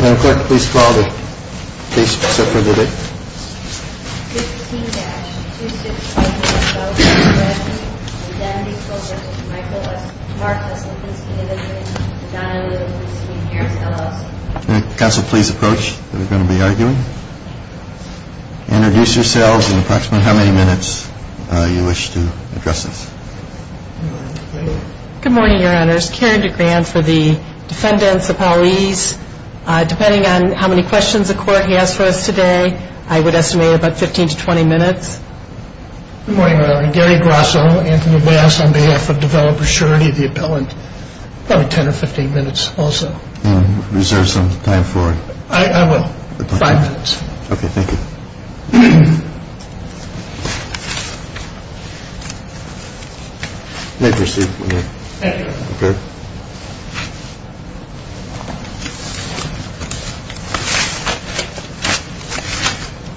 Madam Clerk, please call the case for the day. Counsel, please approach. We're going to be arguing. Introduce yourselves and approximately how many minutes you wish to address us. Good morning, Your Honors. Carrie DeGrand for the defendants, the police. Depending on how many questions the court has for us today, I would estimate about 15 to 20 minutes. Good morning, Your Honor. Gary Grosso, Anthony Bass on behalf of Developer Surety, the appellant. Probably 10 or 15 minutes also. Reserve some time for it. I will. Five minutes. Okay, thank you. You may proceed. Thank you, Your Honor. Okay.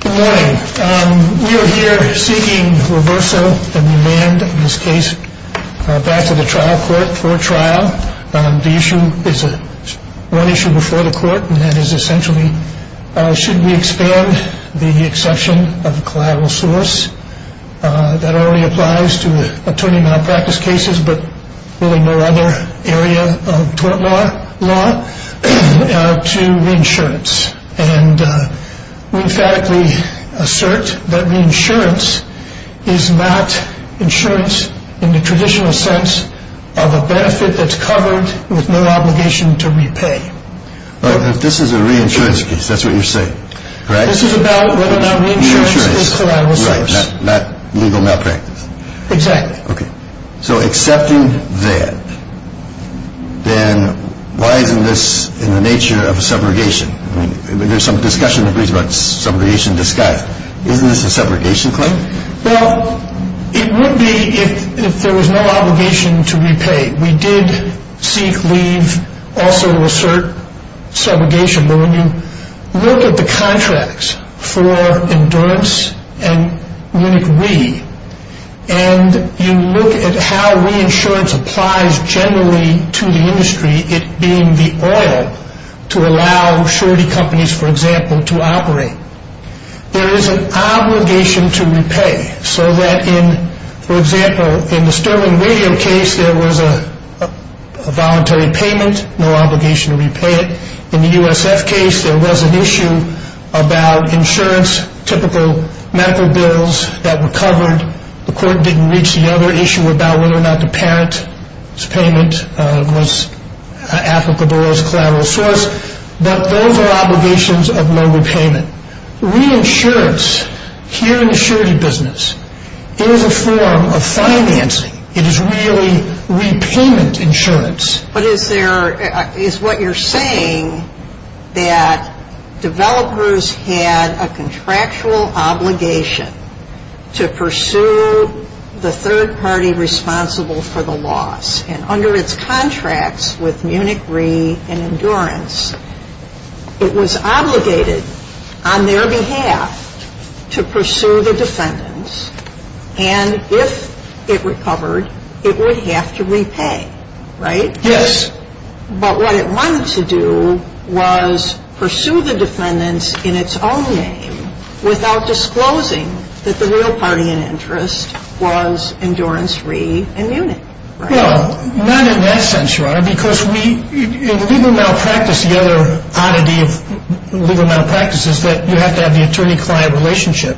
Good morning. We are here seeking reversal and demand in this case back to the trial court for a trial. The issue is one issue before the court, and that is essentially should we expand the exception of the collateral source? That already applies to attorney malpractice cases, but really no other area of tort law to reinsurance. And we emphatically assert that reinsurance is not insurance in the traditional sense of a benefit that's covered with no obligation to repay. This is a reinsurance case. That's what you're saying. This is about whether or not reinsurance is collateral source. Not legal malpractice. Exactly. Okay. So accepting that, then why isn't this in the nature of a subrogation? There's some discussion about subrogation in disguise. Isn't this a subrogation claim? Well, it would be if there was no obligation to repay. We did seek, leave, also assert subrogation. But when you look at the contracts for Endurance and Munich We, and you look at how reinsurance applies generally to the industry, it being the oil to allow surety companies, for example, to operate, there is an obligation to repay. So that in, for example, in the Sterling Radio case, there was a voluntary payment, no obligation to repay it. In the USF case, there was an issue about insurance, typical medical bills that were covered. The court didn't reach the other issue about whether or not the parent's payment was applicable as collateral source. But those are obligations of no repayment. Reinsurance here in the surety business is a form of financing. It is really repayment insurance. But is there, is what you're saying that developers had a contractual obligation to pursue the third party responsible for the loss? And under its contracts with Munich We and Endurance, it was obligated on their behalf to pursue the defendants. And if it recovered, it would have to repay. Right? Yes. But what it wanted to do was pursue the defendants in its own name without disclosing that the real party in interest was Endurance We and Munich. Well, not in that sense, Your Honor, because we, in legal malpractice, the other oddity of legal malpractice is that you have to have the attorney-client relationship.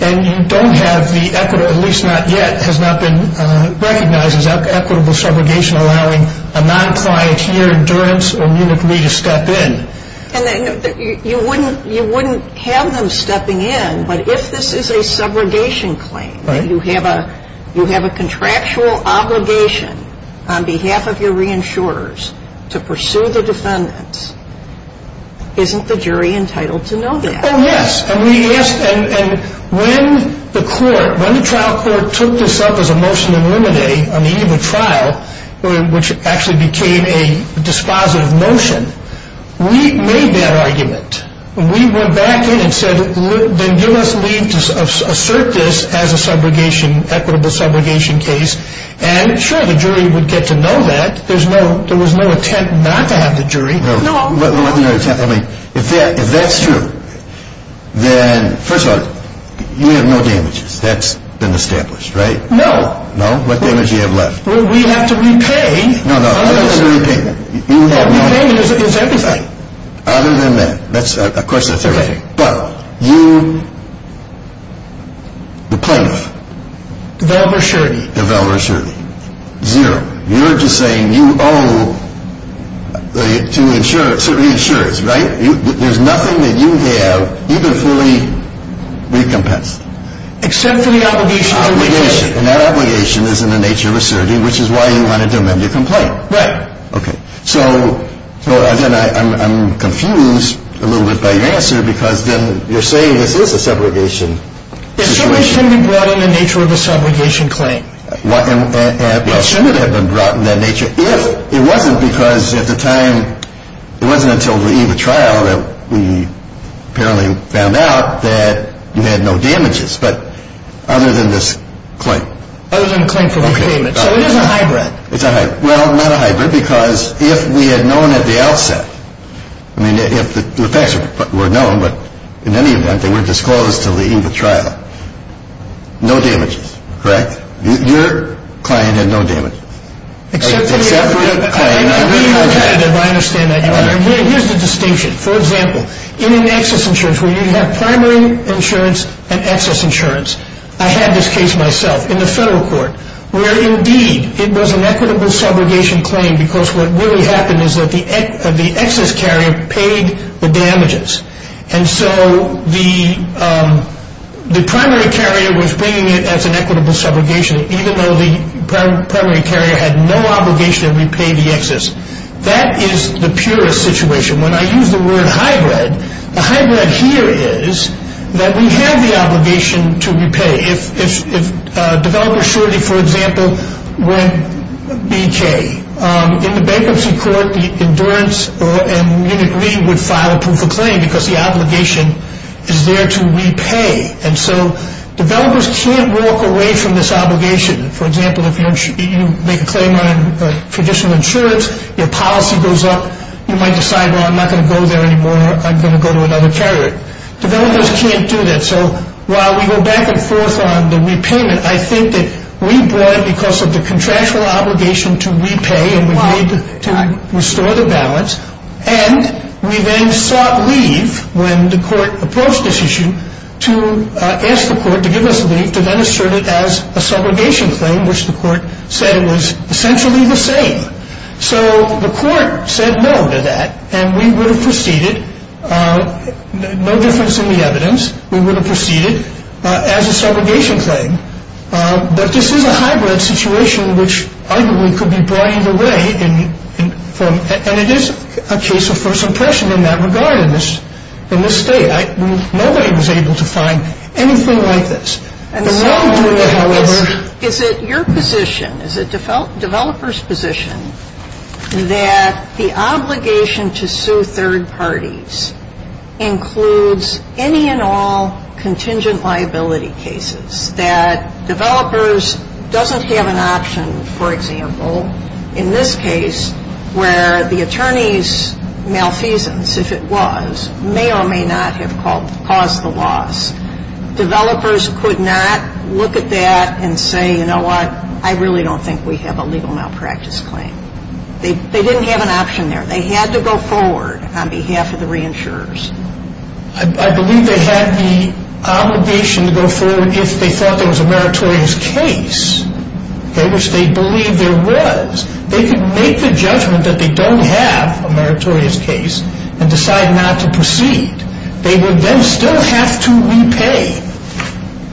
And you don't have the equitable, at least not yet, has not been recognized as equitable subrogation allowing a non-client here, Endurance or Munich We, to step in. And you wouldn't have them stepping in, but if this is a subrogation claim, that you have a contractual obligation on behalf of your reinsurers to pursue the defendants, isn't the jury entitled to know that? Oh, yes. And we asked, and when the court, when the trial court took this up as a motion to eliminate on the eve of a trial, which actually became a dispositive motion, we made that argument. We went back in and said, then give us leave to assert this as a subrogation, equitable subrogation case. And, sure, the jury would get to know that. There was no intent not to have the jury. No. I mean, if that's true, then, first of all, you have no damages. That's been established, right? No. No? What damage do you have left? We have to repay. No, no, other than repayment. Yeah, repayment is everything. Other than that. That's, of course, that's everything. Okay. But you, the plaintiff. Deval Rashirdi. Deval Rashirdi. Zero. You're just saying you owe to insurers, certainly insurers, right? There's nothing that you have even fully recompensed. Except for the obligation. Obligation. And that obligation is in the nature of a surrogate, which is why you wanted to amend your complaint. Right. Okay. So then I'm confused a little bit by your answer because then you're saying this is a subrogation situation. A surrogate shouldn't be brought in in the nature of a subrogation claim. Well, it shouldn't have been brought in that nature if it wasn't because at the time, it wasn't until the EVA trial that we apparently found out that you had no damages. But other than this claim. Other than the claim for repayment. So it is a hybrid. It's a hybrid. Well, not a hybrid because if we had known at the outset, I mean, if the facts were known, but in any event, they were disclosed until the EVA trial, no damages, correct? Your client had no damages. Except for the client. I understand that, Your Honor. Here's the distinction. For example, in an excess insurance where you have primary insurance and excess insurance, I had this case myself in the federal court where indeed it was an equitable subrogation claim because what really happened is that the excess carrier paid the damages. And so the primary carrier was bringing it as an equitable subrogation, even though the primary carrier had no obligation to repay the excess. That is the purest situation. When I use the word hybrid, the hybrid here is that we have the obligation to repay. If developer surety, for example, were in BK, in the bankruptcy court, the endurance and unit reading would file a proof of claim because the obligation is there to repay. And so developers can't walk away from this obligation. For example, if you make a claim on traditional insurance, your policy goes up, you might decide, well, I'm not going to go there anymore. I'm going to go to another carrier. Developers can't do that. So while we go back and forth on the repayment, I think that we brought it because of the contractual obligation to repay and we need to restore the balance. And we then sought leave when the court approached this issue to ask the court to give us leave to then assert it as a subrogation claim, which the court said was essentially the same. So the court said no to that and we would have proceeded, no difference in the evidence, we would have proceeded as a subrogation claim. But this is a hybrid situation which arguably could be brought either way. And it is a case of first impression in that regard in this state. Nobody was able to find anything like this. And so is it your position, is it developers' position, that the obligation to sue third parties includes any and all contingent liability cases, that developers doesn't have an option, for example, in this case, where the attorney's malfeasance, if it was, may or may not have caused the loss. Developers could not look at that and say, you know what, I really don't think we have a legal malpractice claim. They didn't have an option there. They had to go forward on behalf of the reinsurers. I believe they had the obligation to go forward if they thought there was a meritorious case, which they believed there was. They could make the judgment that they don't have a meritorious case and decide not to proceed. They would then still have to repay.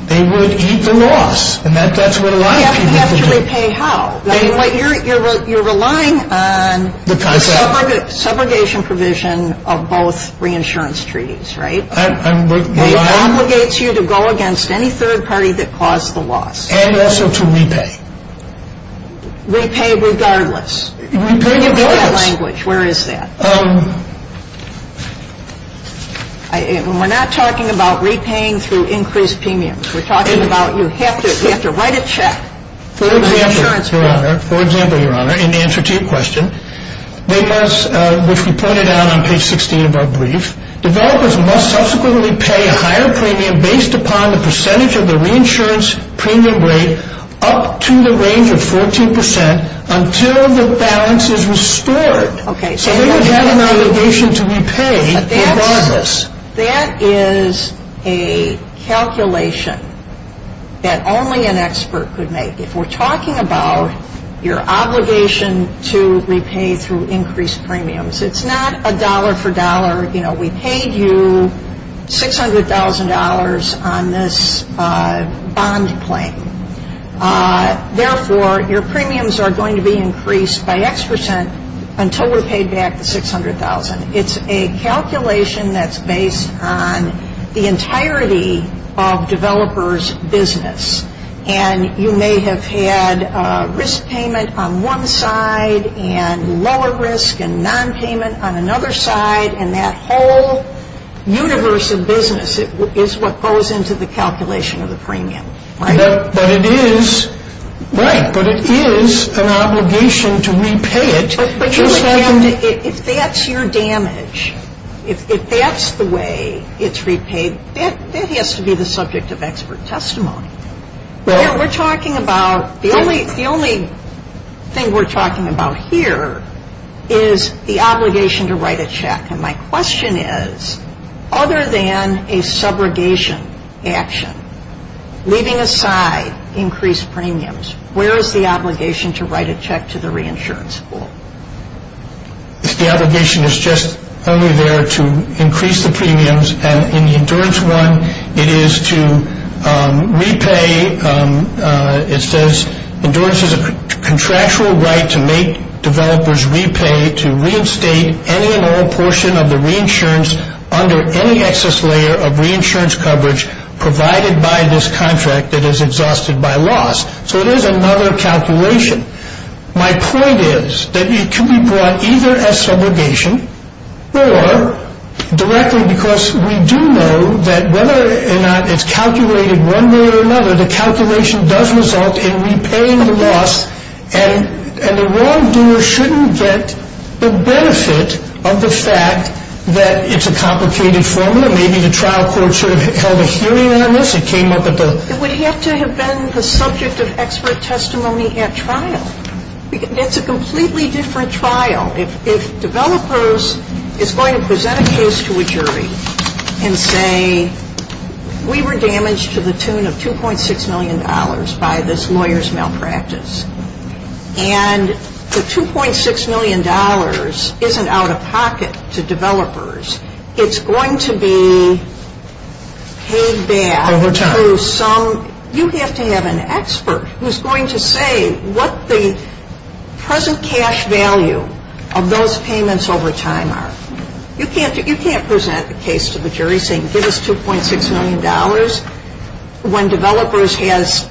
They would eat the loss. And that's what a lot of people do. You have to repay how? You're relying on the subrogation provision of both reinsurance treaties, right? It obligates you to go against any third party that caused the loss. And also to repay. Repay regardless. Repay regardless. Where is that? We're not talking about repaying through increased premiums. We're talking about you have to write a check for the reinsurance premium. For example, Your Honor, in answer to your question, which we pointed out on page 16 of our brief, developers must subsequently pay a higher premium based upon the percentage of the reinsurance premium rate up to the range of 14 percent until the balance is restored. So they would have an obligation to repay regardless. That is a calculation that only an expert could make. If we're talking about your obligation to repay through increased premiums, it's not a dollar for dollar. You know, we paid you $600,000 on this bond claim. Therefore, your premiums are going to be increased by X percent until we've paid back the $600,000. It's a calculation that's based on the entirety of developers' business. And you may have had risk payment on one side and lower risk and nonpayment on another side. And that whole universe of business is what goes into the calculation of the premium, right? But it is an obligation to repay it. But Your Honor, if that's your damage, if that's the way it's repaid, that has to be the subject of expert testimony. We're talking about the only thing we're talking about here is the obligation to write a check. And my question is, other than a subrogation action, leaving aside increased premiums, where is the obligation to write a check to the reinsurance school? The obligation is just only there to increase the premiums. And in Endurance 1, it is to repay. It says, Endurance has a contractual right to make developers repay, to reinstate any and all portion of the reinsurance under any excess layer of reinsurance coverage provided by this contract that is exhausted by loss. So it is another calculation. My point is that it can be brought either as subrogation or directly, because we do know that whether or not it's calculated one way or another, the calculation does result in repaying the loss, and the wrongdoer shouldn't get the benefit of the fact that it's a complicated formula. Maybe the trial court should have held a hearing on this. It came up at the… It would have to have been the subject of expert testimony at trial. It's a completely different trial. If developers is going to present a case to a jury and say, we were damaged to the tune of $2.6 million by this lawyer's malpractice, and the $2.6 million isn't out of pocket to developers, it's going to be paid back to some… Over time. You have to have an expert who's going to say what the present cash value of those payments over time are. You can't present a case to the jury saying, give us $2.6 million when developers has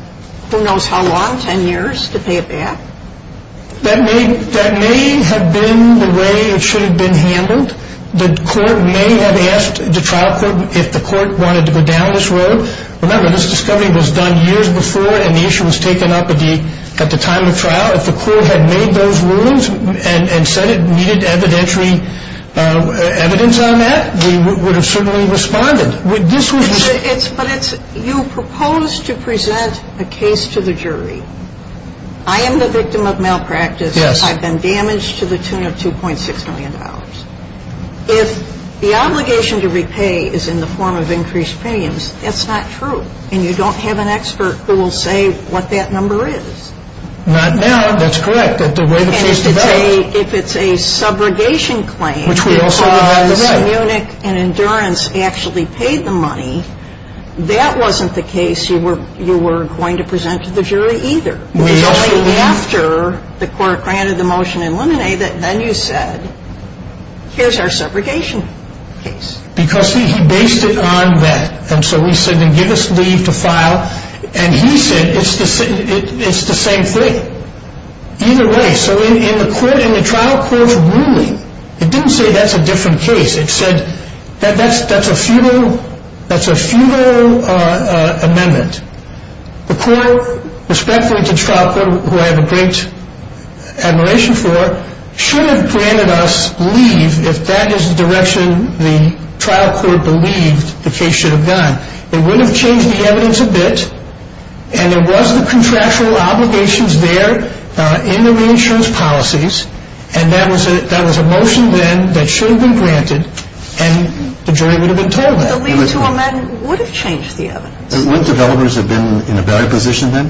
who knows how long, 10 years, to pay it back. That may have been the way it should have been handled. The court may have asked the trial court if the court wanted to go down this road. Remember, this discovery was done years before and the issue was taken up at the time of trial. If the court had made those rulings and said it needed evidentiary evidence on that, we would have certainly responded. This was… But it's… you propose to present a case to the jury. I am the victim of malpractice. Yes. I've been damaged to the tune of $2.6 million. If the obligation to repay is in the form of increased payments, that's not true. And you don't have an expert who will say what that number is. Not now. That's correct. If it's a subrogation claim… Which we also…… because Munich and Endurance actually paid the money, that wasn't the case you were going to present to the jury either. We also… Here's our subrogation case. Because he based it on that. And so we said, then give us leave to file. And he said it's the same thing. Either way, so in the trial court's ruling, it didn't say that's a different case. It said that's a feudal amendment. The court, respectfully to the trial court, who I have a great admiration for, should have granted us leave if that is the direction the trial court believed the case should have gone. It would have changed the evidence a bit. And there was the contractual obligations there in the reinsurance policies. And that was a motion then that should have been granted. And the jury would have been told that. The leave to amend would have changed the evidence. Wouldn't developers have been in a better position then?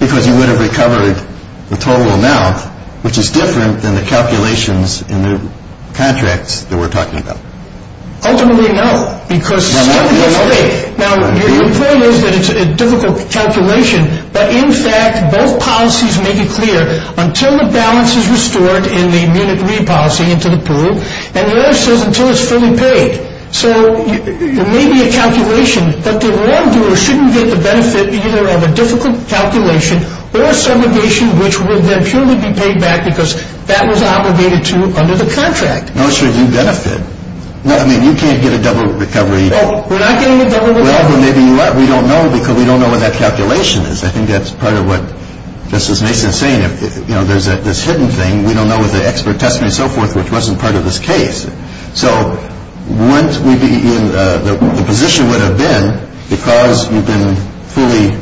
Because you would have recovered the total amount, which is different than the calculations in the contracts that we're talking about. Ultimately, no, because… Now, your point is that it's a difficult calculation. But in fact, both policies make it clear, until the balance is restored in the Munich leave policy into the pool, and the other says until it's fully paid. Right. So there may be a calculation, but the wrongdoer shouldn't get the benefit either of a difficult calculation or a subrogation which would then purely be paid back because that was obligated to under the contract. No, sure, you benefit. I mean, you can't get a double recovery. Oh, we're not getting a double recovery. Well, maybe you are. We don't know because we don't know what that calculation is. I think that's part of what Justice Mason is saying. You know, there's this hidden thing. We don't know if the expert testimony and so forth, which wasn't part of this case. So the position would have been, because you've been fully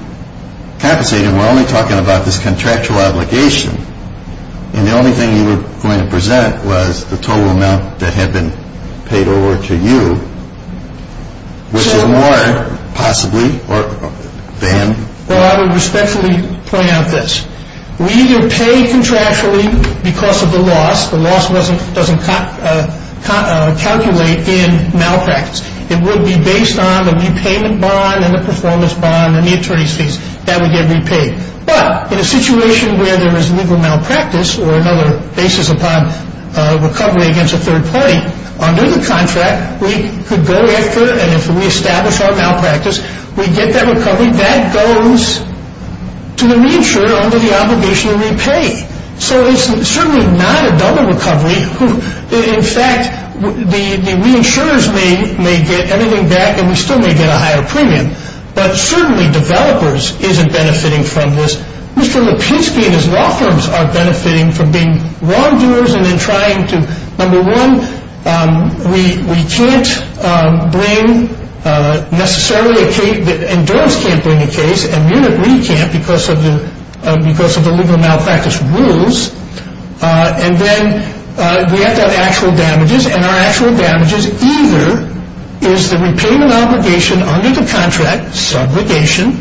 compensated, and we're only talking about this contractual obligation, and the only thing you were going to present was the total amount that had been paid over to you, which is more possibly banned. Well, I would respectfully point out this. We either pay contractually because of the loss. The loss doesn't calculate in malpractice. It would be based on the repayment bond and the performance bond and the attorney's fees. That would get repaid. But in a situation where there is legal malpractice or another basis upon recovery against a third party, under the contract, we could go after and if we establish our malpractice, we get that recovery. That goes to the reinsurer under the obligation to repay. So it's certainly not a double recovery. In fact, the reinsurers may get anything back, and we still may get a higher premium. But certainly developers isn't benefiting from this. Mr. Lipinski and his law firms are benefiting from being wrongdoers and then trying to, number one, we can't bring necessarily a case, because of the legal malpractice rules. And then we have to have actual damages, and our actual damages either is the repayment obligation under the contract, subrogation,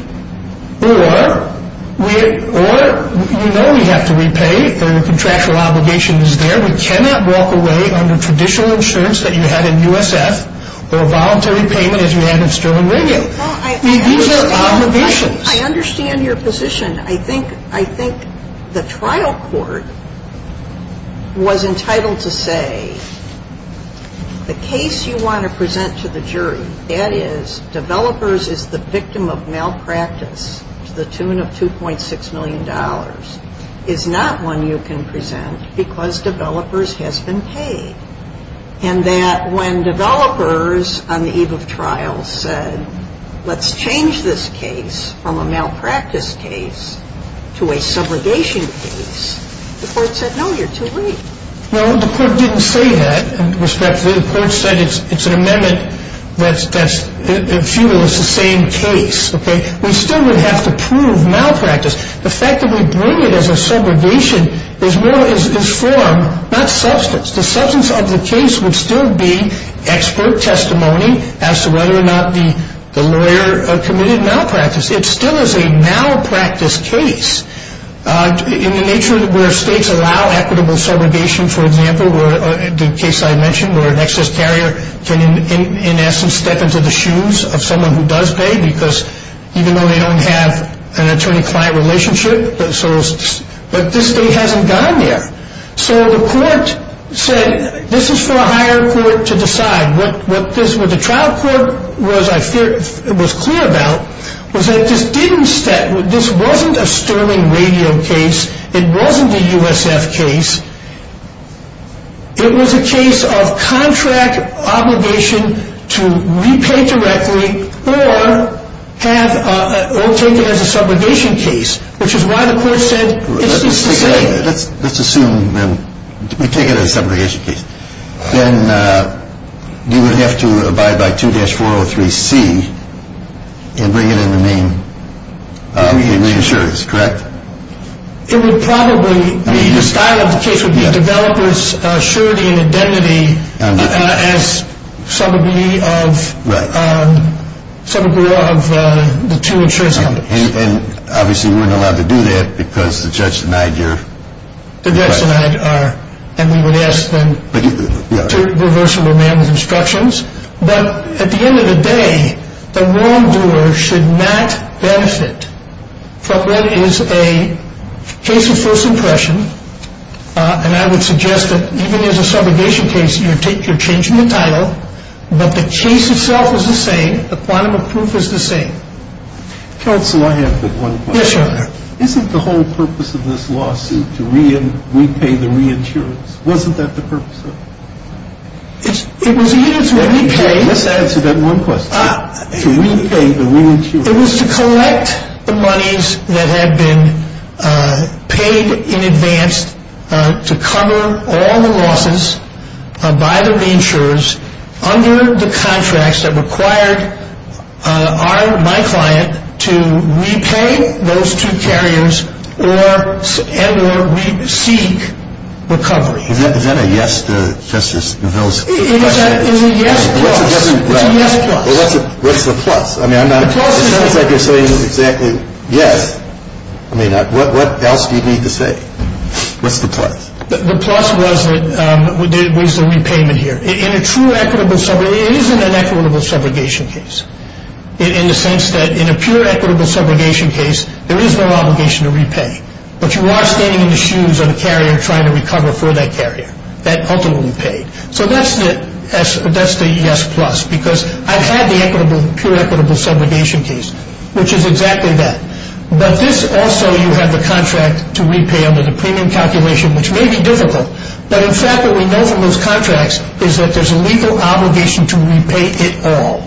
or you know we have to repay. The contractual obligation is there. We cannot walk away under traditional insurance that you had in USF or a voluntary payment as you had in Sterling Region. I understand your position. I think the trial court was entitled to say the case you want to present to the jury, that is developers is the victim of malpractice to the tune of $2.6 million, is not one you can present because developers has been paid. And that when developers on the eve of trial said, let's change this case from a malpractice case to a subrogation case, the court said, no, you're too late. No, the court didn't say that. Respectfully, the court said it's an amendment that's futile. It's the same case. We still would have to prove malpractice. The fact that we bring it as a subrogation is more in form, not substance. The substance of the case would still be expert testimony as to whether or not the lawyer committed malpractice. It still is a malpractice case in the nature where states allow equitable subrogation, for example, the case I mentioned where an excess carrier can, in essence, step into the shoes of someone who does pay because even though they don't have an attorney-client relationship, but this state hasn't gone there. So the court said this is for a higher court to decide. What the trial court was clear about was that this wasn't a Sterling Radio case. It wasn't a USF case. It was a case of contract obligation to repay directly or take it as a subrogation case, which is why the court said it's the same. Let's assume we take it as a subrogation case. Then you would have to abide by 2-403C and bring it in the main insurance, correct? It would probably be the style of the case would be developers' surety and identity as some agree of the two insurance companies. And obviously we're not allowed to do that because the judge denied your request. The judge denied our request and we would ask them to reverse the remand with instructions. But at the end of the day, the wrongdoer should not benefit from what is a case of first impression. And I would suggest that even as a subrogation case, you're changing the title, but the case itself is the same. The quantum of proof is the same. Counsel, I have but one question. Yes, sir. Isn't the whole purpose of this lawsuit to repay the reinsurance? Wasn't that the purpose of it? It was used when we paid. Let's answer that one question. To repay the reinsurance. It was to collect the monies that had been paid in advance to cover all the losses by the reinsurers under the contracts that required my client to repay those two carriers and or seek recovery. Is that a yes to Justice Neville's question? It's a yes plus. Well, what's the plus? It sounds like you're saying exactly yes. I mean, what else do you need to say? What's the plus? The plus was the repayment here. In a true equitable subrogation, it isn't an equitable subrogation case in the sense that in a pure equitable subrogation case, there is no obligation to repay. But you are standing in the shoes of a carrier trying to recover for that carrier that ultimately paid. So that's the yes plus because I've had the pure equitable subrogation case, which is exactly that. But this also, you have the contract to repay under the premium calculation, which may be difficult. But in fact, what we know from those contracts is that there's a legal obligation to repay it all.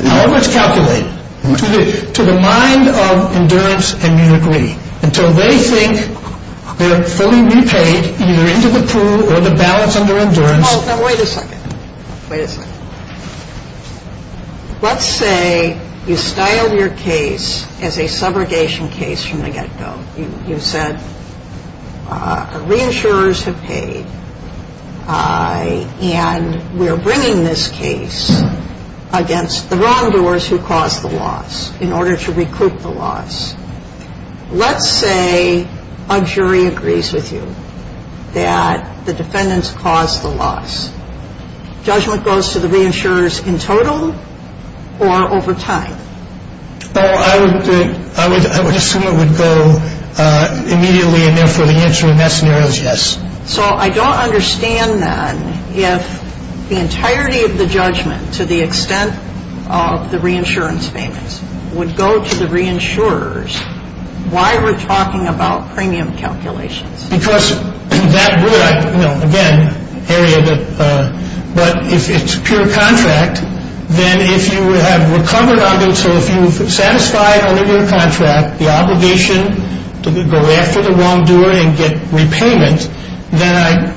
Now, let's calculate. To the mind of endurance and you agree. Until they think they're fully repaid, either into the pool or the balance under endurance. Now, wait a second. Wait a second. Let's say you styled your case as a subrogation case from the get-go. You said re-insurers have paid. And we're bringing this case against the wrongdoers who caused the loss in order to recoup the loss. Let's say a jury agrees with you that the defendants caused the loss. Judgment goes to the re-insurers in total or over time? I would assume it would go immediately and therefore the answer in that scenario is yes. So I don't understand then if the entirety of the judgment to the extent of the re-insurance payments would go to the re-insurers. Why we're talking about premium calculations? Because that would, you know, again, Harriet, but if it's pure contract, then if you have recovered on those, so if you've satisfied only your contract, the obligation to go after the wrongdoer and get repayment, then I,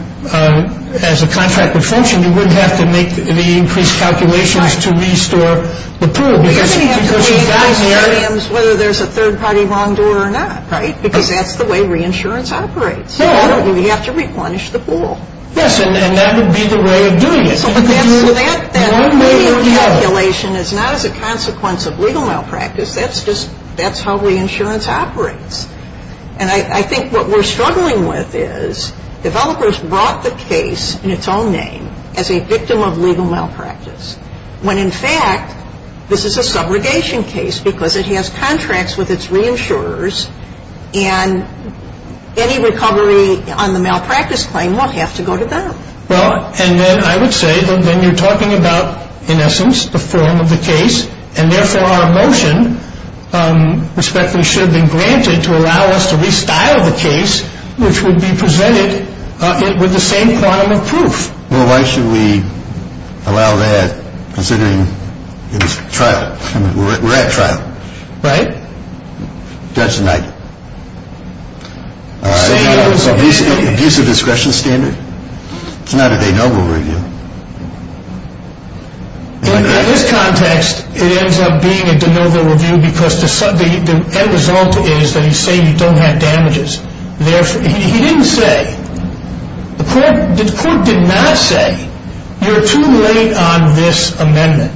as a contract would function, you wouldn't have to make the increased calculations to restore the pool. You wouldn't have to pay those premiums whether there's a third-party wrongdoer or not, right? Because that's the way re-insurance operates. We have to replenish the pool. Yes, and that would be the way of doing it. So that premium calculation is not as a consequence of legal malpractice. That's just, that's how re-insurance operates. And I think what we're struggling with is developers brought the case in its own name as a victim of legal malpractice when, in fact, this is a subrogation case because it has contracts with its re-insurers and any recovery on the malpractice claim won't have to go to them. Well, and then I would say that then you're talking about, in essence, the form of the case, and therefore our motion respectfully should have been granted to allow us to restyle the case, which would be presented with the same quantum of proof. Well, why should we allow that considering it's trial? I mean, we're at trial. Right. Judge denied it. All right. Abusive discretion standard. It's not a de novo review. In this context, it ends up being a de novo review because the end result is that he's saying you don't have damages. He didn't say, the court did not say you're too late on this amendment.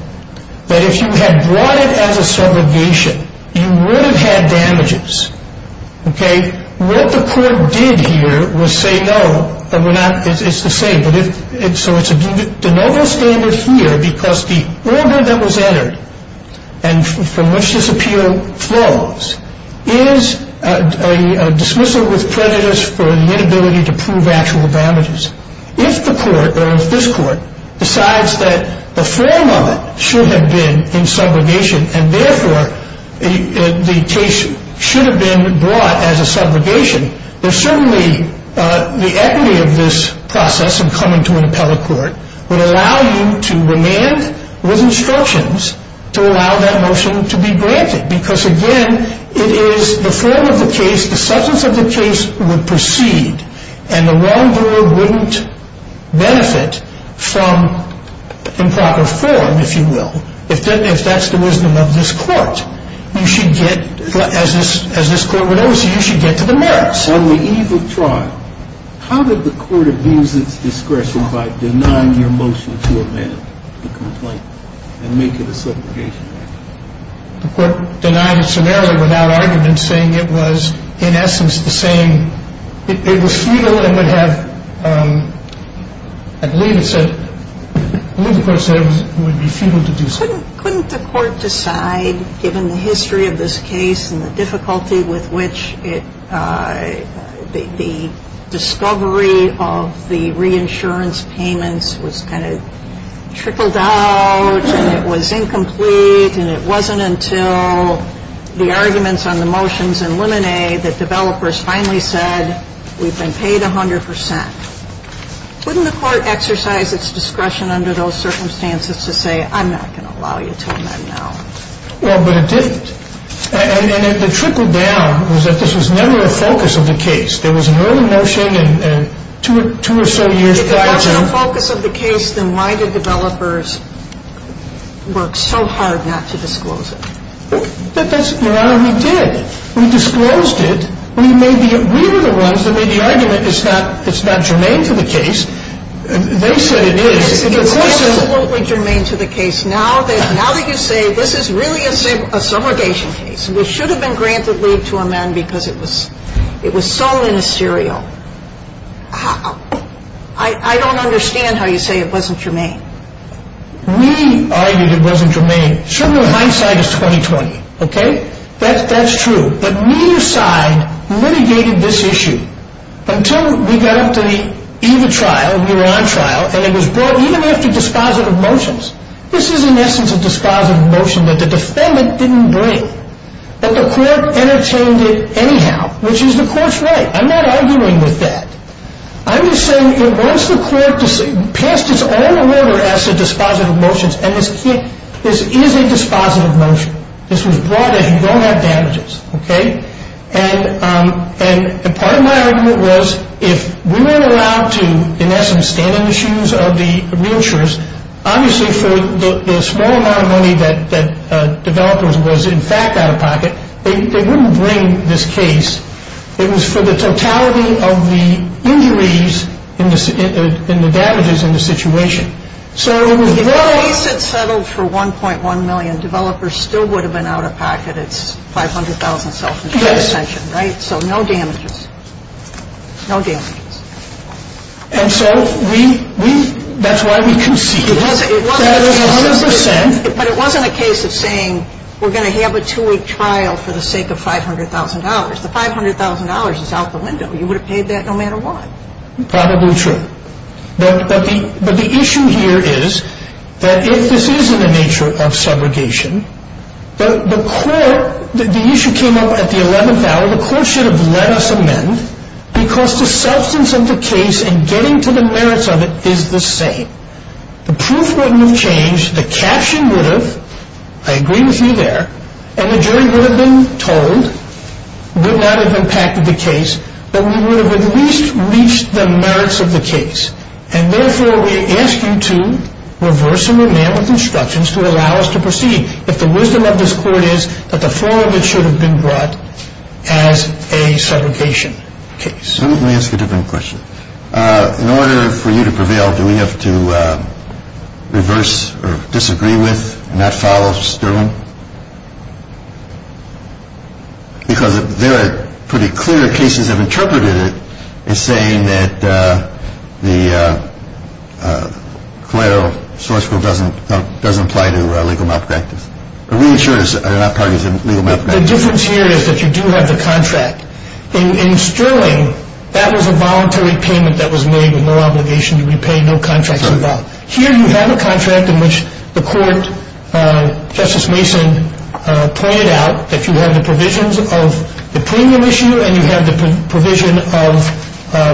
But if you had brought it as a subrogation, you would have had damages. Okay. What the court did here was say, no, it's the same. So it's a de novo standard here because the order that was entered and from which this appeal flows is a dismissal with prejudice for the inability to prove actual damages. If the court, or if this court, decides that the form of it should have been in subrogation and therefore the case should have been brought as a subrogation, then certainly the equity of this process in coming to an appellate court would allow you to remand with instructions to allow that motion to be granted. Because, again, it is the form of the case, the substance of the case would proceed, and the wrongdoer wouldn't benefit from improper form, if you will, if that's the wisdom of this court. And so the court would have to decide, well, if the court decides that this motion is not in subrogation, If the court decides that this motion is not in subrogation, then you should get to the merits. You should get, as this court would always say, you should get to the merits. On the eve of trial, how did the court abuse its discretion by denying your motion to amend the complaint and make it a subrogation? The court denied it summarily without argument, saying it was, in essence, the same. It was futile and would have, I believe it said, I believe the court said it would be futile to do so. Couldn't the court decide, given the history of this case and the difficulty with which it, the discovery of the reinsurance payments was kind of trickled out and it was incomplete and it wasn't until the arguments on the motions in Lemonet that developers finally said, we've been paid 100 percent. Wouldn't the court exercise its discretion under those circumstances to say, I'm not going to allow you to amend now? Well, but it didn't. And the trickle down was that this was never a focus of the case. There was an early motion and two or so years prior to it. If it wasn't a focus of the case, then why did developers work so hard not to disclose it? That's, Your Honor, we did. We disclosed it. We made the, we were the ones that made the argument it's not, it's not germane to the case. They said it is. It's absolutely germane to the case. Now that you say this is really a subrogation case, which should have been granted leave to amend because it was so ministerial, I don't understand how you say it wasn't germane. We argued it wasn't germane. Certainly my side is 20-20. Okay? That's true. But neither side litigated this issue until we got up to the EVA trial, we were on trial, and it was brought even after dispositive motions. This is, in essence, a dispositive motion that the defendant didn't bring. But the court entertained it anyhow, which is the court's right. I'm not arguing with that. I'm just saying it wants the court to pass its own order as to dispositive motions, and this is a dispositive motion. This was brought in. You don't have damages. Okay? And part of my argument was if we weren't allowed to, in essence, stand in the shoes of the real jurors, obviously for the small amount of money that developers was, in fact, out-of-pocket, they wouldn't bring this case. It was for the totality of the injuries and the damages in the situation. If the case had settled for $1.1 million, developers still would have been out-of-pocket. It's $500,000 self-insurance pension, right? So no damages. No damages. And so we've – that's why we concede that 100% – But it wasn't a case of saying we're going to have a two-week trial for the sake of $500,000. The $500,000 is out the window. You would have paid that no matter what. Probably true. But the issue here is that if this is in the nature of subrogation, the court – the issue came up at the 11th hour. Well, the court should have let us amend because the substance of the case and getting to the merits of it is the same. The proof wouldn't have changed. The caption would have. I agree with you there. And the jury would have been told, would not have impacted the case, but we would have at least reached the merits of the case. And therefore, we ask you to reverse and remand with instructions to allow us to proceed. If the wisdom of this court is that the four of it should have been brought as a subrogation case. Let me ask a different question. In order for you to prevail, do we have to reverse or disagree with and not follow Sterling? Because there are pretty clear cases that have interpreted it as saying that the collateral source code doesn't apply to legal malpractice. Reinsurers are not parties to legal malpractice. The difference here is that you do have the contract. In Sterling, that was a voluntary payment that was made with no obligation to repay, no contract involved. Here you have a contract in which the court, Justice Mason, pointed out that you have the provisions of the premium issue and you have the provision of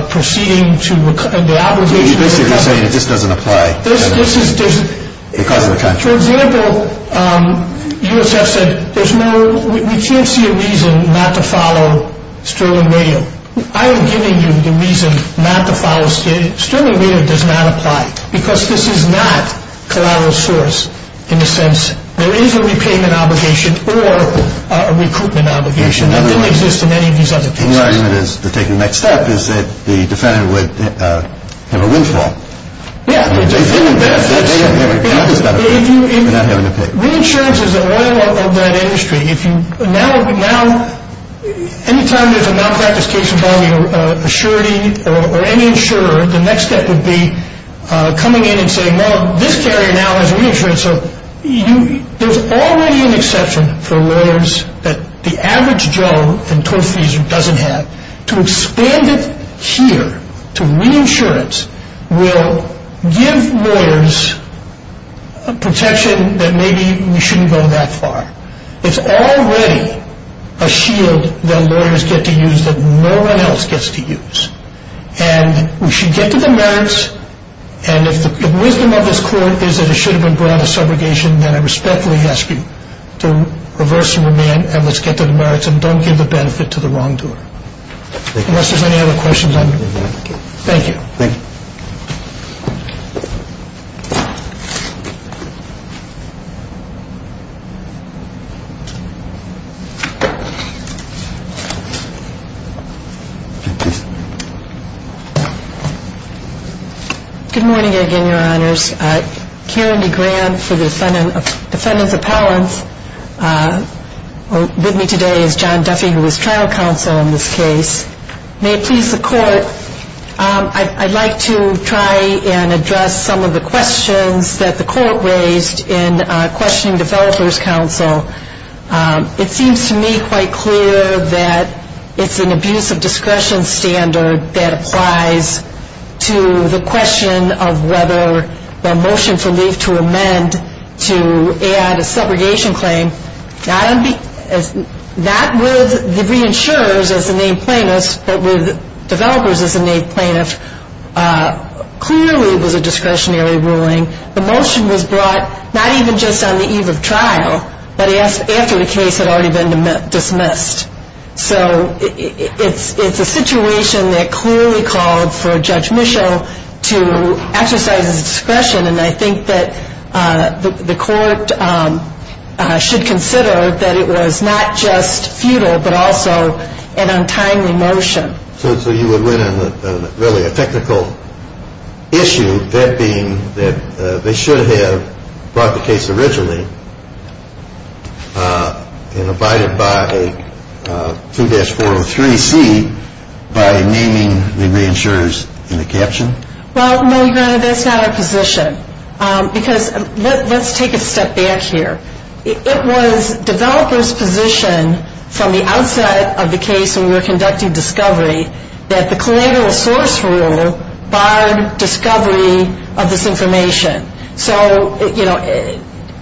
proceeding to the obligation. You're basically saying this doesn't apply because of the contract. For example, USF said there's no, we can't see a reason not to follow Sterling Radio. I am giving you the reason not to follow Sterling Radio. It does not apply because this is not collateral source in the sense there is a repayment obligation or a recruitment obligation that didn't exist in any of these other cases. And your argument is to take the next step is that the defendant would have a windfall. Yeah. They didn't benefit. They haven't accomplished anything. They're not having to pay. Reinsurance is the oil of that industry. Any time there's a malpractice case involving a surety or any insurer, the next step would be coming in and saying, well, this carrier now has reinsurance. So there's already an exception for lawyers that the average Joe in total fees doesn't have. To expand it here to reinsurance will give lawyers protection that maybe we shouldn't go that far. It's already a shield that lawyers get to use that no one else gets to use. And we should get to the merits. And if the wisdom of this court is that it should have been brought on a subrogation, then I respectfully ask you to reverse your demand and let's get to the merits and don't give the benefit to the wrongdoer. Unless there's any other questions. Thank you. Thank you. Thank you. Good morning again, Your Honors. Karen DeGran for the defendant's appellants with me today is John Duffy, who is trial counsel in this case. May it please the court, I'd like to try and address some of the questions that the court raised in questioning developers' counsel. It seems to me quite clear that it's an abuse of discretion standard that applies to the question of whether the motion for leave to amend to add a subrogation claim, not with the reinsurers as the named plaintiffs, but with developers as the named plaintiffs, clearly was a discretionary ruling. The motion was brought not even just on the eve of trial, but after the case had already been dismissed. So it's a situation that clearly called for Judge Mischel to exercise his discretion. And I think that the court should consider that it was not just futile, but also an untimely motion. So you would win on really a technical issue, that being that they should have brought the case originally and abided by 2-403C by naming the reinsurers in the caption? Well, no, Your Honor, that's not our position. Because let's take a step back here. It was developers' position from the outset of the case when we were conducting discovery that the collateral source rule barred discovery of this information. So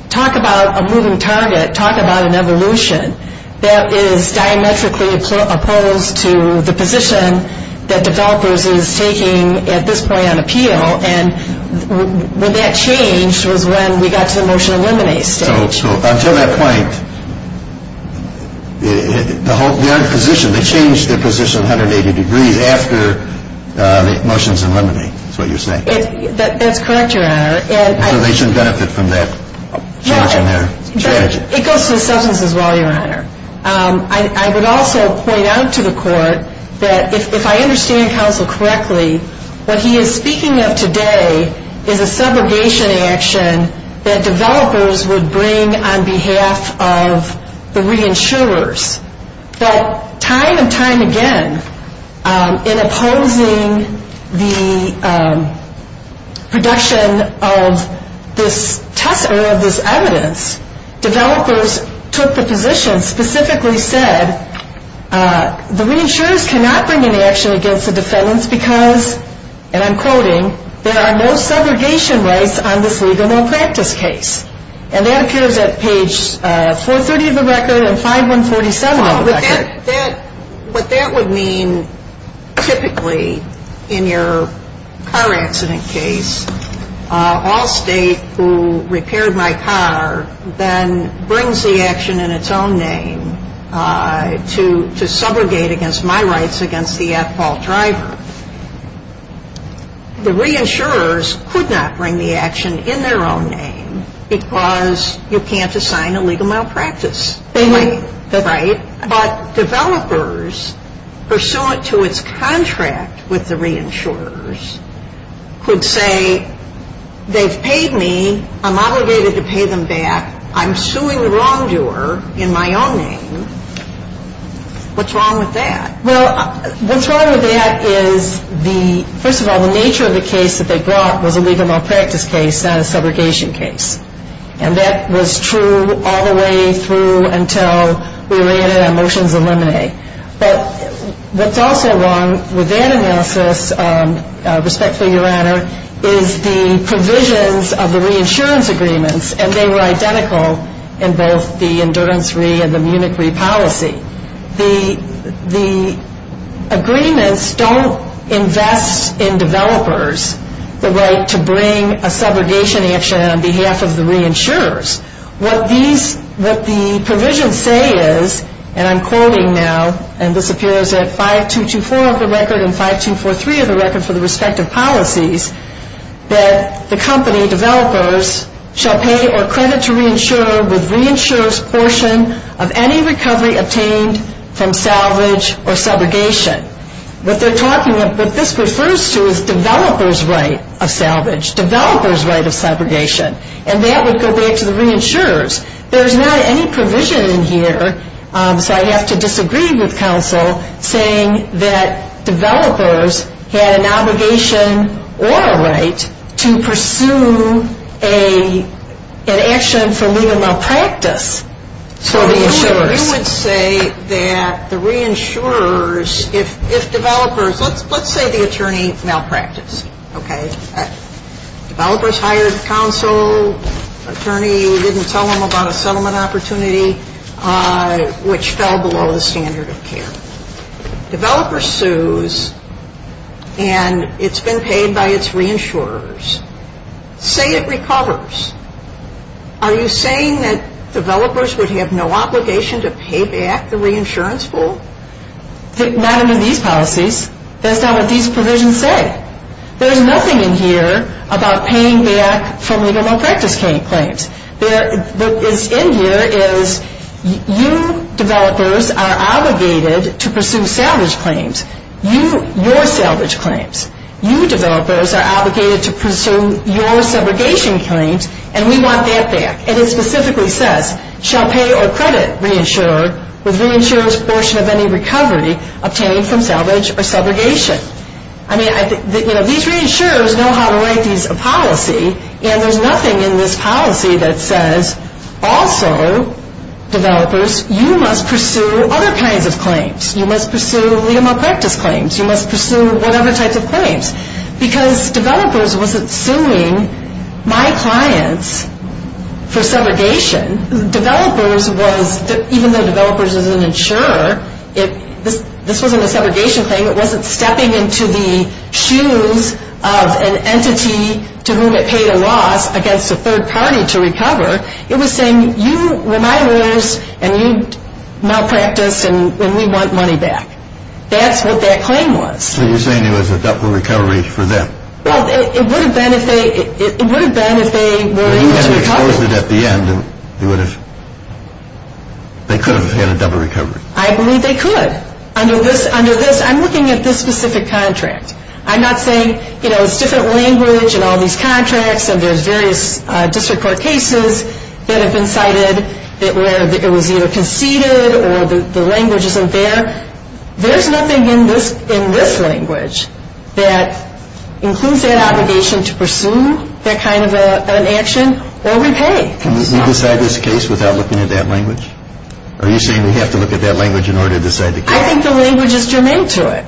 talk about a moving target, talk about an evolution that is diametrically opposed to the position that developers is taking at this point on appeal. And when that changed was when we got to the motion to eliminate stage. So until that point, their position, they changed their position 180 degrees after the motion is eliminated, is what you're saying? That's correct, Your Honor. So they shouldn't benefit from that change in their charge? It goes to the substance as well, Your Honor. I would also point out to the court that if I understand counsel correctly, what he is speaking of today is a segregation action that developers would bring on behalf of the reinsurers. But time and time again, in opposing the production of this evidence, developers took the position, specifically said, the reinsurers cannot bring any action against the defendants because, and I'm quoting, there are no segregation rights on this legal malpractice case. And that appears at page 430 of the record and 547 of the record. What that would mean typically in your car accident case, all state who repaired my car then brings the action in its own name to subrogate against my rights against the at-fault driver. The reinsurers could not bring the action in their own name because you can't assign a legal malpractice. Right. But developers pursuant to its contract with the reinsurers could say, they've paid me, I'm obligated to pay them back, I'm suing the wrongdoer in my own name. What's wrong with that? Well, what's wrong with that is the, first of all, the nature of the case that they brought was a legal malpractice case, not a subrogation case. And that was true all the way through until we ran it on motions of limine. But what's also wrong with that analysis, respectfully, Your Honor, is the provisions of the reinsurance agreements, and they were identical in both the endurance re and the Munich re policy. The agreements don't invest in developers the right to bring a subrogation action on behalf of the reinsurers. What the provisions say is, and I'm quoting now, and this appears at 5224 of the record and 5243 of the record for the respective policies, that the company developers shall pay or credit to reinsurer with reinsurer's portion of any recovery obtained from salvage or subrogation. What they're talking, what this refers to is developers' right of salvage, developers' right of subrogation. And that would go back to the reinsurers. There's not any provision in here, so I have to disagree with counsel, saying that developers had an obligation or a right to pursue an action for legal malpractice for reinsurers. You would say that the reinsurers, if developers, let's say the attorney malpracticed, okay? Developers hired counsel, attorney didn't tell them about a settlement opportunity, which fell below the standard of care. Developer sues, and it's been paid by its reinsurers. Say it recovers. Are you saying that developers would have no obligation to pay back the reinsurance full? Not under these policies. That's not what these provisions say. There's nothing in here about paying back for legal malpractice claims. What is in here is you developers are obligated to pursue salvage claims. You, your salvage claims. You developers are obligated to pursue your subrogation claims, and we want that back. And it specifically says, shall pay or credit reinsurer with reinsurer's portion of any recovery obtained from salvage or subrogation. I mean, you know, these reinsurers know how to write these policies, and there's nothing in this policy that says, also, developers, you must pursue other kinds of claims. You must pursue legal malpractice claims. You must pursue whatever types of claims. Because developers wasn't suing my clients for subrogation. Developers was, even though developers is an insurer, this wasn't a subrogation claim. It wasn't stepping into the shoes of an entity to whom it paid a loss against a third party to recover. It was saying, you were my owners, and you malpracticed, and we want money back. That's what that claim was. So you're saying it was a double recovery for them? Well, it would have been if they, it would have been if they were able to recover. If they had exposed it at the end, they would have, they could have had a double recovery. I believe they could. Under this, under this, I'm looking at this specific contract. I'm not saying, you know, it's different language, and all these contracts, and there's various district court cases that have been cited, where it was either conceded or the language isn't there. There's nothing in this language that includes that obligation to pursue that kind of an action or repay. Can we decide this case without looking at that language? Are you saying we have to look at that language in order to decide the case? I think the language is germane to it.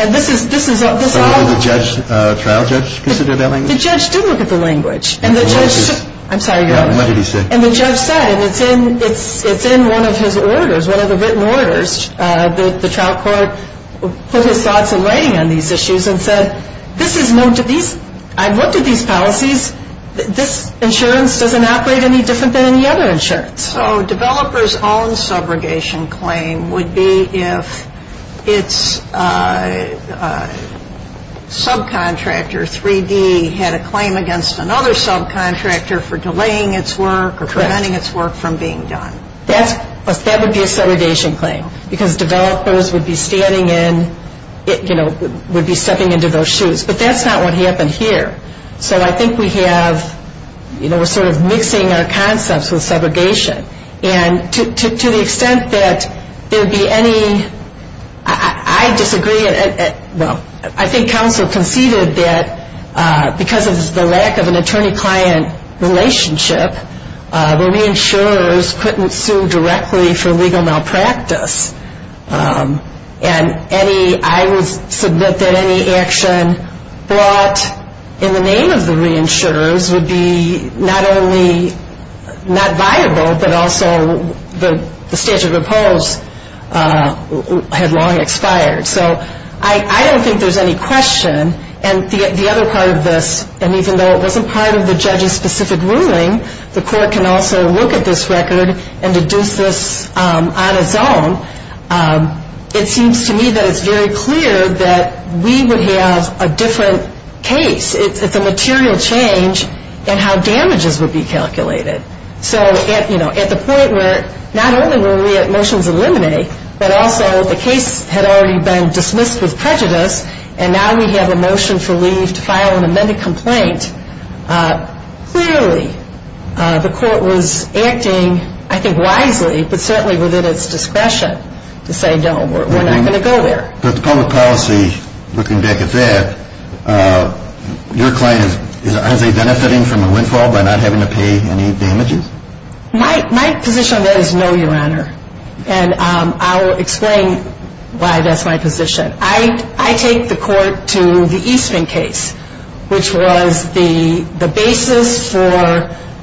And this is, this is, this is all. So did the judge, trial judge consider that language? The judge did look at the language. And the judge, I'm sorry. What did he say? And the judge said, and it's in, it's in one of his orders, one of the written orders, that the trial court put his thoughts in writing on these issues and said, this is known to these, I've looked at these policies. This insurance doesn't operate any different than any other insurance. So developers' own subrogation claim would be if its subcontractor, 3D, had a claim against another subcontractor for delaying its work or preventing its work from being done. That's, that would be a subrogation claim. Because developers would be standing in, you know, would be stepping into those shoes. But that's not what happened here. So I think we have, you know, we're sort of mixing our concepts with subrogation. And to the extent that there would be any, I disagree. Well, I think counsel conceded that because of the lack of an attorney-client relationship, the reinsurers couldn't sue directly for legal malpractice. And any, I would submit that any action brought in the name of the reinsurers would be not only not viable, but also the statute of oppose had long expired. So I don't think there's any question. And the other part of this, and even though it wasn't part of the judge's specific ruling, the court can also look at this record and deduce this on its own. It seems to me that it's very clear that we would have a different case. So, you know, at the point where not only were we at motions eliminate, but also the case had already been dismissed with prejudice, and now we have a motion for leave to file an amended complaint, clearly the court was acting, I think, wisely, but certainly within its discretion to say, no, we're not going to go there. But the public policy, looking back at that, your claim, are they benefiting from a windfall by not having to pay any damages? My position on that is no, Your Honor. And I'll explain why that's my position. I take the court to the Eastman case, which was the basis for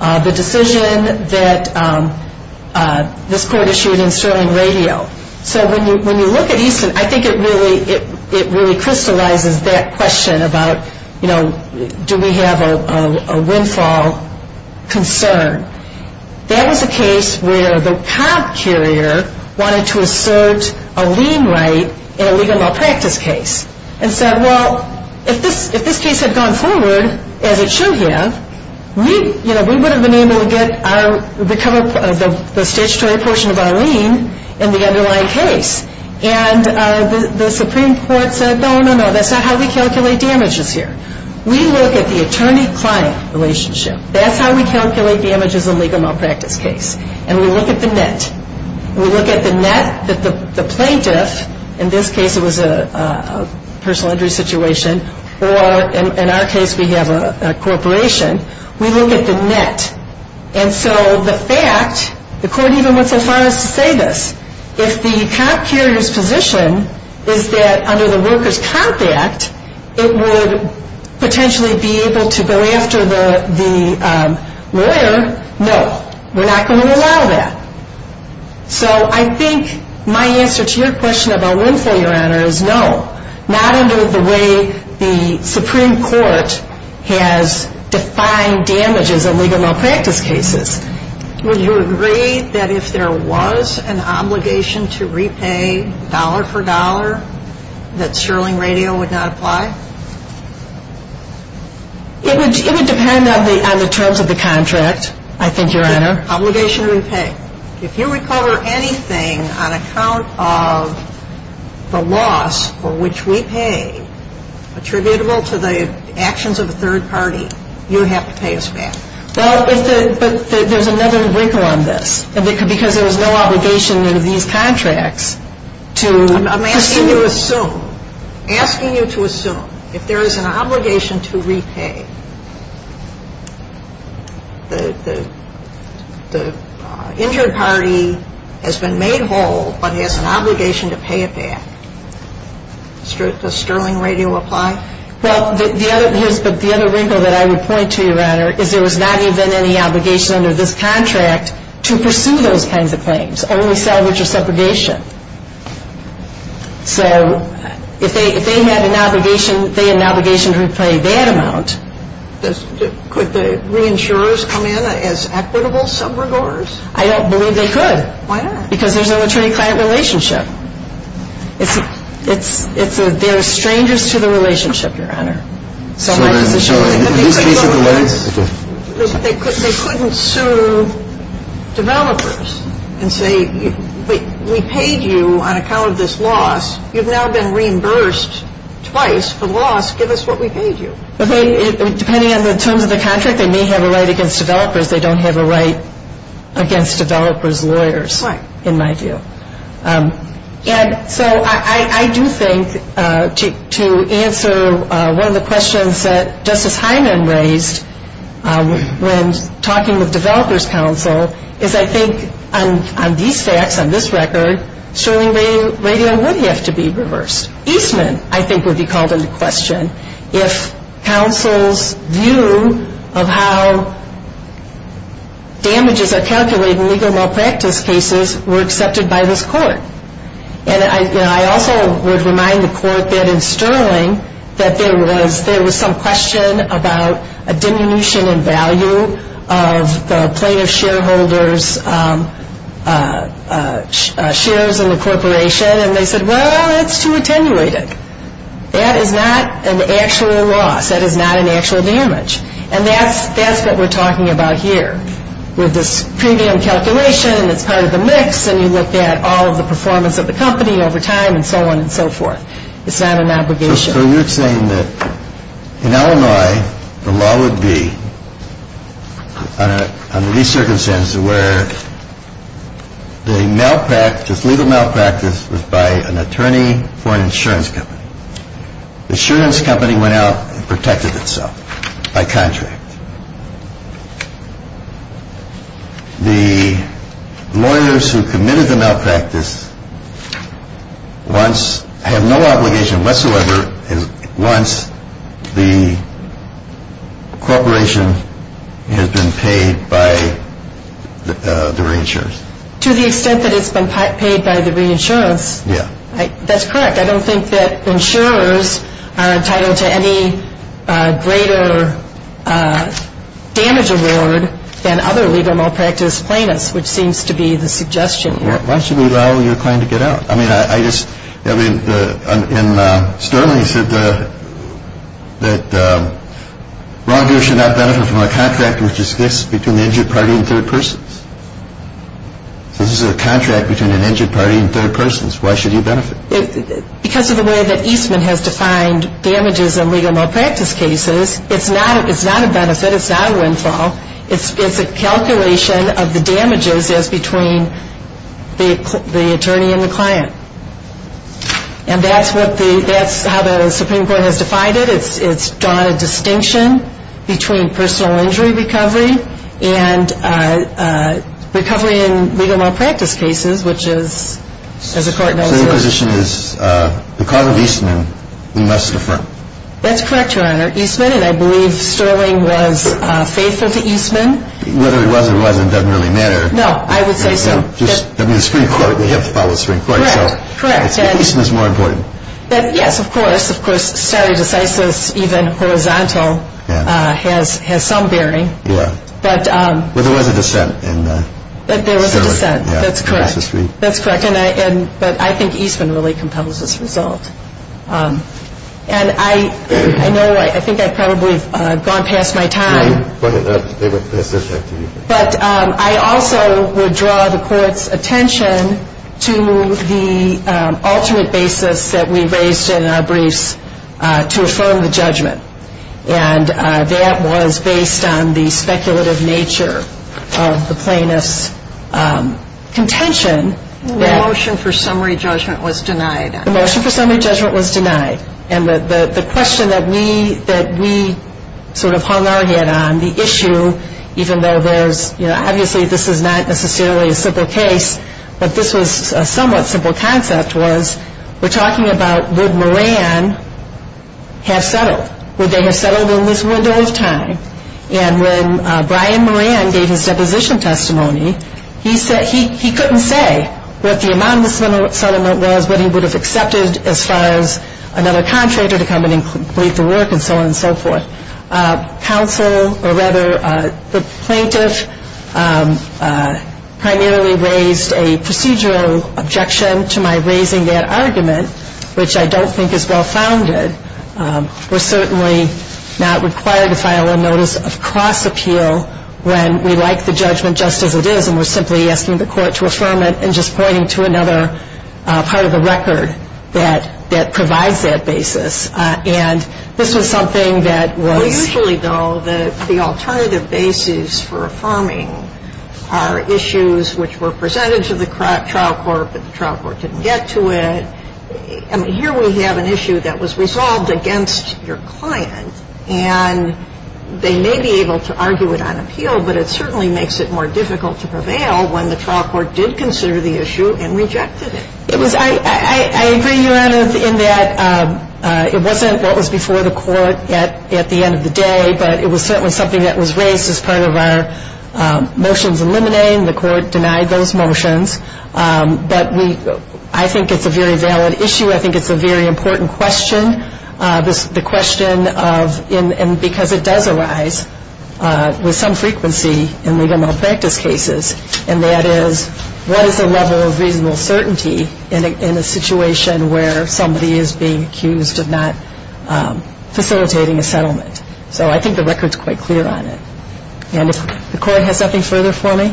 the decision that this court issued in Sterling Radio. So when you look at Eastman, I think it really crystallizes that question about, you know, do we have a windfall concern. That was a case where the cop carrier wanted to assert a lien right in a legal malpractice case, and said, well, if this case had gone forward as it should have, we would have been able to recover the statutory portion of our lien in the underlying case. And the Supreme Court said, no, no, no, that's not how we calculate damages here. We look at the attorney-client relationship. That's how we calculate damages in a legal malpractice case. And we look at the net. We look at the net that the plaintiff, in this case it was a personal injury situation, or in our case we have a corporation, we look at the net. And so the fact, the court even went so far as to say this, if the cop carrier's position is that under the Workers' Comp Act it would potentially be able to go after the lawyer, no, we're not going to allow that. So I think my answer to your question about windfall, Your Honor, is no. Not under the way the Supreme Court has defined damages in legal malpractice cases. Would you agree that if there was an obligation to repay dollar for dollar that Sterling Radio would not apply? It would depend on the terms of the contract, I think, Your Honor. Obligation to repay. If you recover anything on account of the loss for which we pay attributable to the actions of a third party, you have to pay us back. Well, but there's another wrinkle on this. Because there was no obligation under these contracts to assume. Asking you to assume. If there is an obligation to repay, the injured party has been made whole but has an obligation to pay it back. Does Sterling Radio apply? Well, the other wrinkle that I would point to, Your Honor, is there was not even any obligation under this contract to pursue those kinds of claims. Only salvage or separation. So if they had an obligation to repay that amount. Could the reinsurers come in as equitable sub-regards? I don't believe they could. Why not? Because there's no attorney-client relationship. They're strangers to the relationship, Your Honor. In this case of the lawyers? They couldn't sue developers and say we paid you on account of this loss. You've now been reimbursed twice for the loss. Give us what we paid you. Depending on the terms of the contract, they may have a right against developers. They don't have a right against developers' lawyers in my view. And so I do think to answer one of the questions that Justice Hyman raised when talking with developers' counsel is I think on these facts, on this record, Sterling Radio would have to be reversed. Eastman, I think, would be called into question. If counsel's view of how damages are calculated in legal malpractice cases were accepted by this court. And I also would remind the court that in Sterling that there was some question about a diminution in value of the plaintiff shareholders' shares in the corporation. And they said, well, that's too attenuated. That is not an actual loss. That is not an actual damage. And that's what we're talking about here. With this premium calculation, it's part of the mix, and you look at all of the performance of the company over time and so on and so forth. It's not an obligation. So you're saying that in Illinois, the law would be, under these circumstances, where the malpractice, legal malpractice was by an attorney for an insurance company. The insurance company went out and protected itself by contract. The lawyers who committed the malpractice once have no obligation whatsoever once the corporation has been paid by the reinsurance. To the extent that it's been paid by the reinsurance. Yeah. That's correct. I don't think that insurers are entitled to any greater damage award than other legal malpractice plaintiffs, which seems to be the suggestion here. Why should we allow your client to get out? I mean, I just, I mean, and Sterling said that wrongdoers should not benefit from a contract which is fixed between the injured party and third persons. This is a contract between an injured party and third persons. Why should you benefit? Because of the way that Eastman has defined damages in legal malpractice cases, it's not a benefit. It's not a windfall. It's a calculation of the damages as between the attorney and the client. And that's what the, that's how the Supreme Court has defined it. It's drawn a distinction between personal injury recovery and recovery in legal malpractice cases, which is, as the court knows. So your position is because of Eastman, we must defer. That's correct, Your Honor. Eastman, and I believe Sterling was faithful to Eastman. Whether he was or wasn't doesn't really matter. No, I would say so. Just, I mean, the Supreme Court, they have to follow the Supreme Court. Correct, correct. Eastman is more important. Yes, of course. Of course, stare decisis, even horizontal, has some bearing. Yeah. But there was a dissent in Sterling's case. There was a dissent. That's correct. That's correct. But I think Eastman really compels this result. And I know, I think I've probably gone past my time. They went past their time. But I also would draw the court's attention to the alternate basis that we raised in our briefs to affirm the judgment. And that was based on the speculative nature of the plaintiff's contention. The motion for summary judgment was denied. The motion for summary judgment was denied. And the question that we sort of hung our head on, the issue, even though there was, you know, obviously this is not necessarily a simple case, but this was a somewhat simple concept, was we're talking about would Moran have settled? Would they have settled in this window of time? And when Brian Moran gave his deposition testimony, he couldn't say what the amount of the settlement was, but he would have accepted as far as another contractor to come in and complete the work and so on and so forth. The plaintiff primarily raised a procedural objection to my raising that argument, which I don't think is well-founded. We're certainly not required to file a notice of cross-appeal when we like the judgment just as it is and we're simply asking the court to affirm it and just pointing to another part of the record that provides that basis. And this was something that was — Usually, though, the alternative basis for affirming are issues which were presented to the trial court, but the trial court didn't get to it. I mean, here we have an issue that was resolved against your client, and they may be able to argue it on appeal, but it certainly makes it more difficult to prevail when the trial court did consider the issue and rejected it. It was — I agree, Your Honor, in that it wasn't what was before the court at the end of the day, but it was certainly something that was raised as part of our motions eliminating. The court denied those motions, but we — I think it's a very valid issue. I think it's a very important question, the question of — and because it does arise with some frequency in legal malpractice cases, and that is, what is the level of reasonable certainty in a situation where somebody is being accused of not facilitating a settlement? So I think the record's quite clear on it. And if the court has nothing further for me,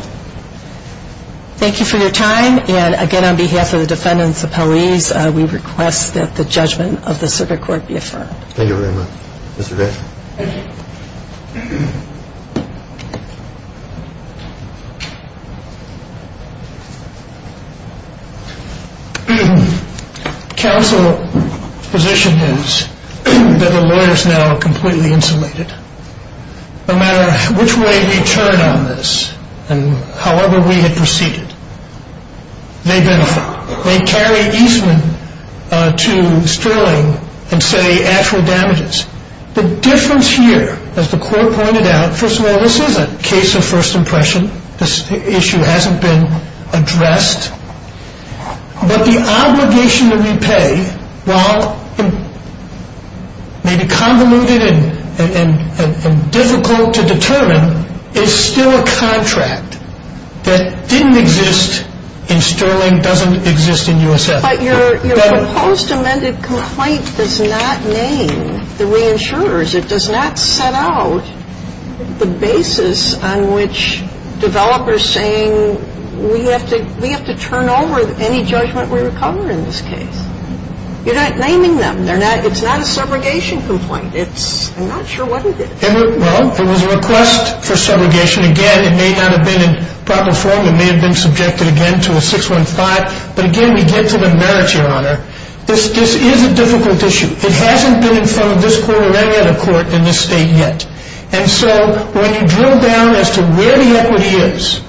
thank you for your time. And, again, on behalf of the defendants' appellees, we request that the judgment of the circuit court be affirmed. Thank you very much. Mr. Dixon. Counsel's position is that the lawyers now are completely insulated. No matter which way we turn on this and however we had proceeded, they benefit. They carry easement to Sterling and say actual damages. The difference here, as the court pointed out, first of all, this is a case of first impression. This issue hasn't been addressed. But the obligation to repay, while maybe convoluted and difficult to determine, is still a contract that didn't exist in Sterling, doesn't exist in U.S.S. But your proposed amended complaint does not name the reinsurers. It does not set out the basis on which developers saying we have to turn over any judgment we recover in this case. You're not naming them. It's not a segregation complaint. I'm not sure what it is. Well, it was a request for segregation. Again, it may not have been in proper form. It may have been subjected again to a 615. But, again, we get to the merits, Your Honor. This is a difficult issue. It hasn't been in front of this court or any other court in this state yet. And so when you drill down as to where the equity is,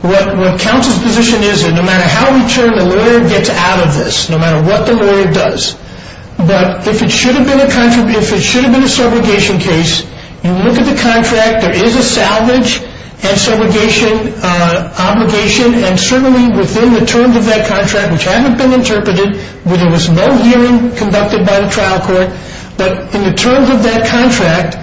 what counsel's position is that no matter how we turn, the lawyer gets out of this, no matter what the lawyer does. But if it should have been a segregation case, you look at the contract. There is a salvage and segregation obligation. And certainly within the terms of that contract, which haven't been interpreted, where there was no hearing conducted by the trial court, but in the terms of that contract,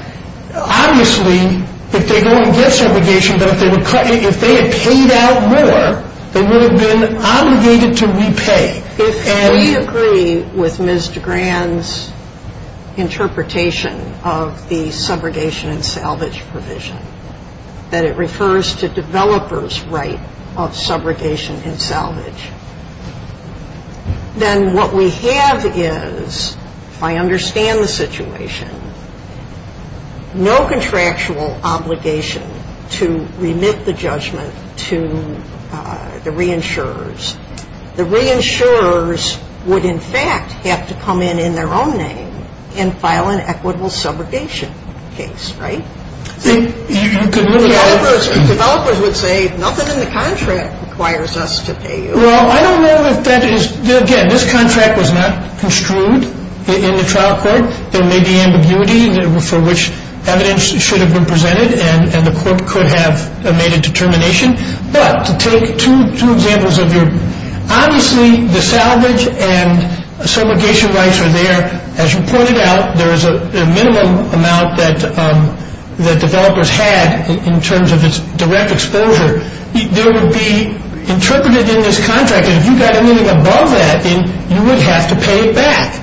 obviously if they go and get segregation, but if they had paid out more, they would have been obligated to repay. If we agree with Ms. DeGran's interpretation of the subrogation and salvage provision, that it refers to developers' right of subrogation and salvage, then what we have is, if I understand the situation, no contractual obligation to remit the judgment to the reinsurers. The reinsurers would in fact have to come in in their own name and file an equitable subrogation case, right? Developers would say, nothing in the contract requires us to pay you. Well, I don't know if that is, again, this contract was not construed in the trial court. There may be ambiguity for which evidence should have been presented and the court could have made a determination. But to take two examples of your, obviously the salvage and subrogation rights are there. As you pointed out, there is a minimum amount that developers had in terms of its direct exposure. There would be interpreted in this contract, and if you got anything above that, then you would have to pay it back.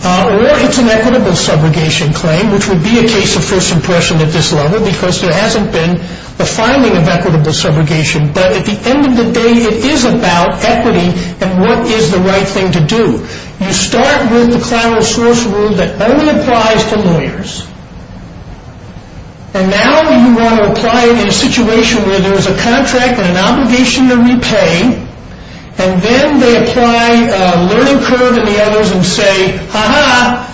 Or it's an equitable subrogation claim, which would be a case of first impression at this level, because there hasn't been a filing of equitable subrogation. But at the end of the day, it is about equity and what is the right thing to do. You start with the Clyro source rule that only applies to lawyers. And now you want to apply it in a situation where there is a contract and an obligation to repay, and then they apply a learning curve and the others and say, ha-ha,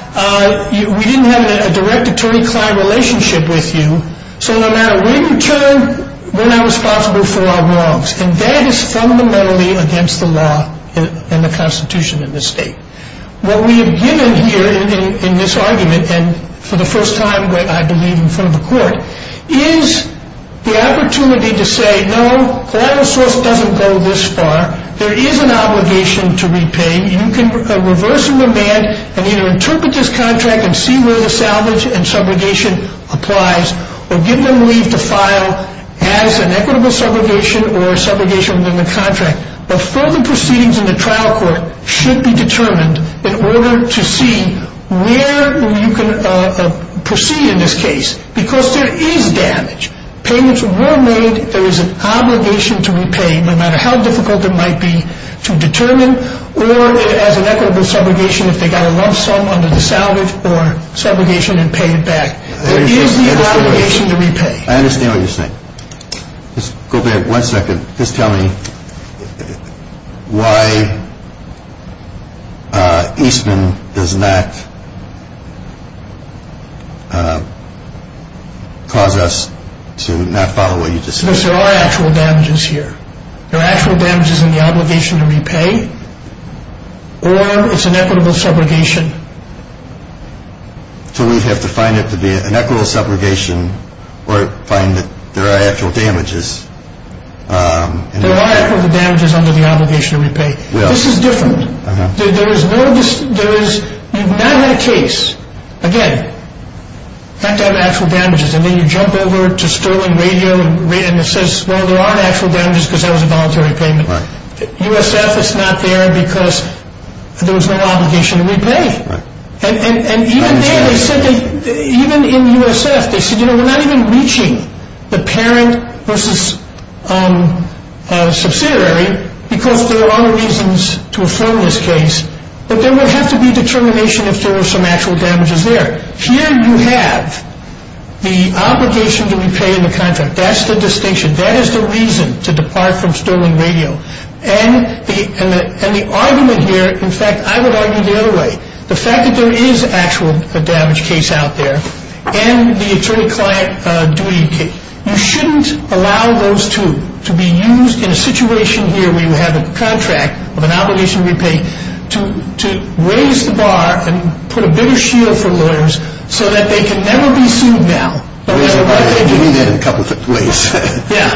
we didn't have a direct attorney-client relationship with you, so no matter when you turn, we're not responsible for our wrongs. And that is fundamentally against the law and the Constitution in this state. What we have given here in this argument, and for the first time I believe in front of a court, is the opportunity to say, no, Clyro source doesn't go this far. There is an obligation to repay. You can reverse the demand and either interpret this contract and see where the salvage and subrogation applies or give them leave to file as an equitable subrogation or a subrogation within the contract. But further proceedings in the trial court should be determined in order to see where you can proceed in this case, because there is damage. Payments were made. There is an obligation to repay, no matter how difficult it might be to determine, or as an equitable subrogation if they got a lump sum under the salvage or subrogation and paid it back. There is the obligation to repay. I understand what you're saying. Go back one second. Just tell me why Eastman does not cause us to not follow what you just said. Because there are actual damages here. There are actual damages in the obligation to repay or it's an equitable subrogation. So we have to find it to be an equitable subrogation or find that there are actual damages. There are equitable damages under the obligation to repay. This is different. There is no, you've not had a case, again, not to have actual damages. And then you jump over to Sterling Radio and it says, well, there are actual damages because that was a voluntary payment. USF is not there because there was no obligation to repay. And even there, they said, even in USF, they said, you know, we're not even reaching the parent versus subsidiary because there are other reasons to affirm this case. But there would have to be determination if there were some actual damages there. Here you have the obligation to repay in the contract. That's the distinction. That is the reason to depart from Sterling Radio. And the argument here, in fact, I would argue the other way. The fact that there is an actual damage case out there and the attorney-client duty, you shouldn't allow those two to be used in a situation here where you have a contract of an obligation to repay to raise the bar and put a bigger shield for lawyers so that they can never be sued now. You mean that in a couple of ways. Yeah.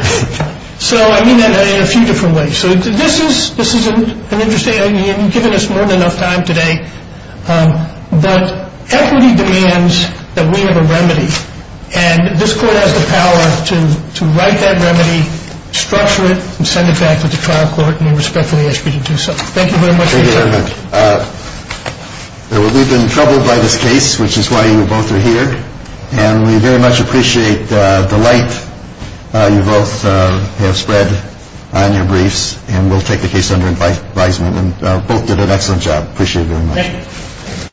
So I mean that in a few different ways. So this is an interesting – you've given us more than enough time today. But equity demands that we have a remedy. And this Court has the power to write that remedy, structure it, and send it back to the trial court and respectfully ask you to do so. Thank you very much, Mr. Chairman. Thank you very much. We've been troubled by this case, which is why you both are here. And we very much appreciate the light you both have spread on your briefs. And we'll take the case under advisement. And both did an excellent job. Appreciate it very much. Thank you.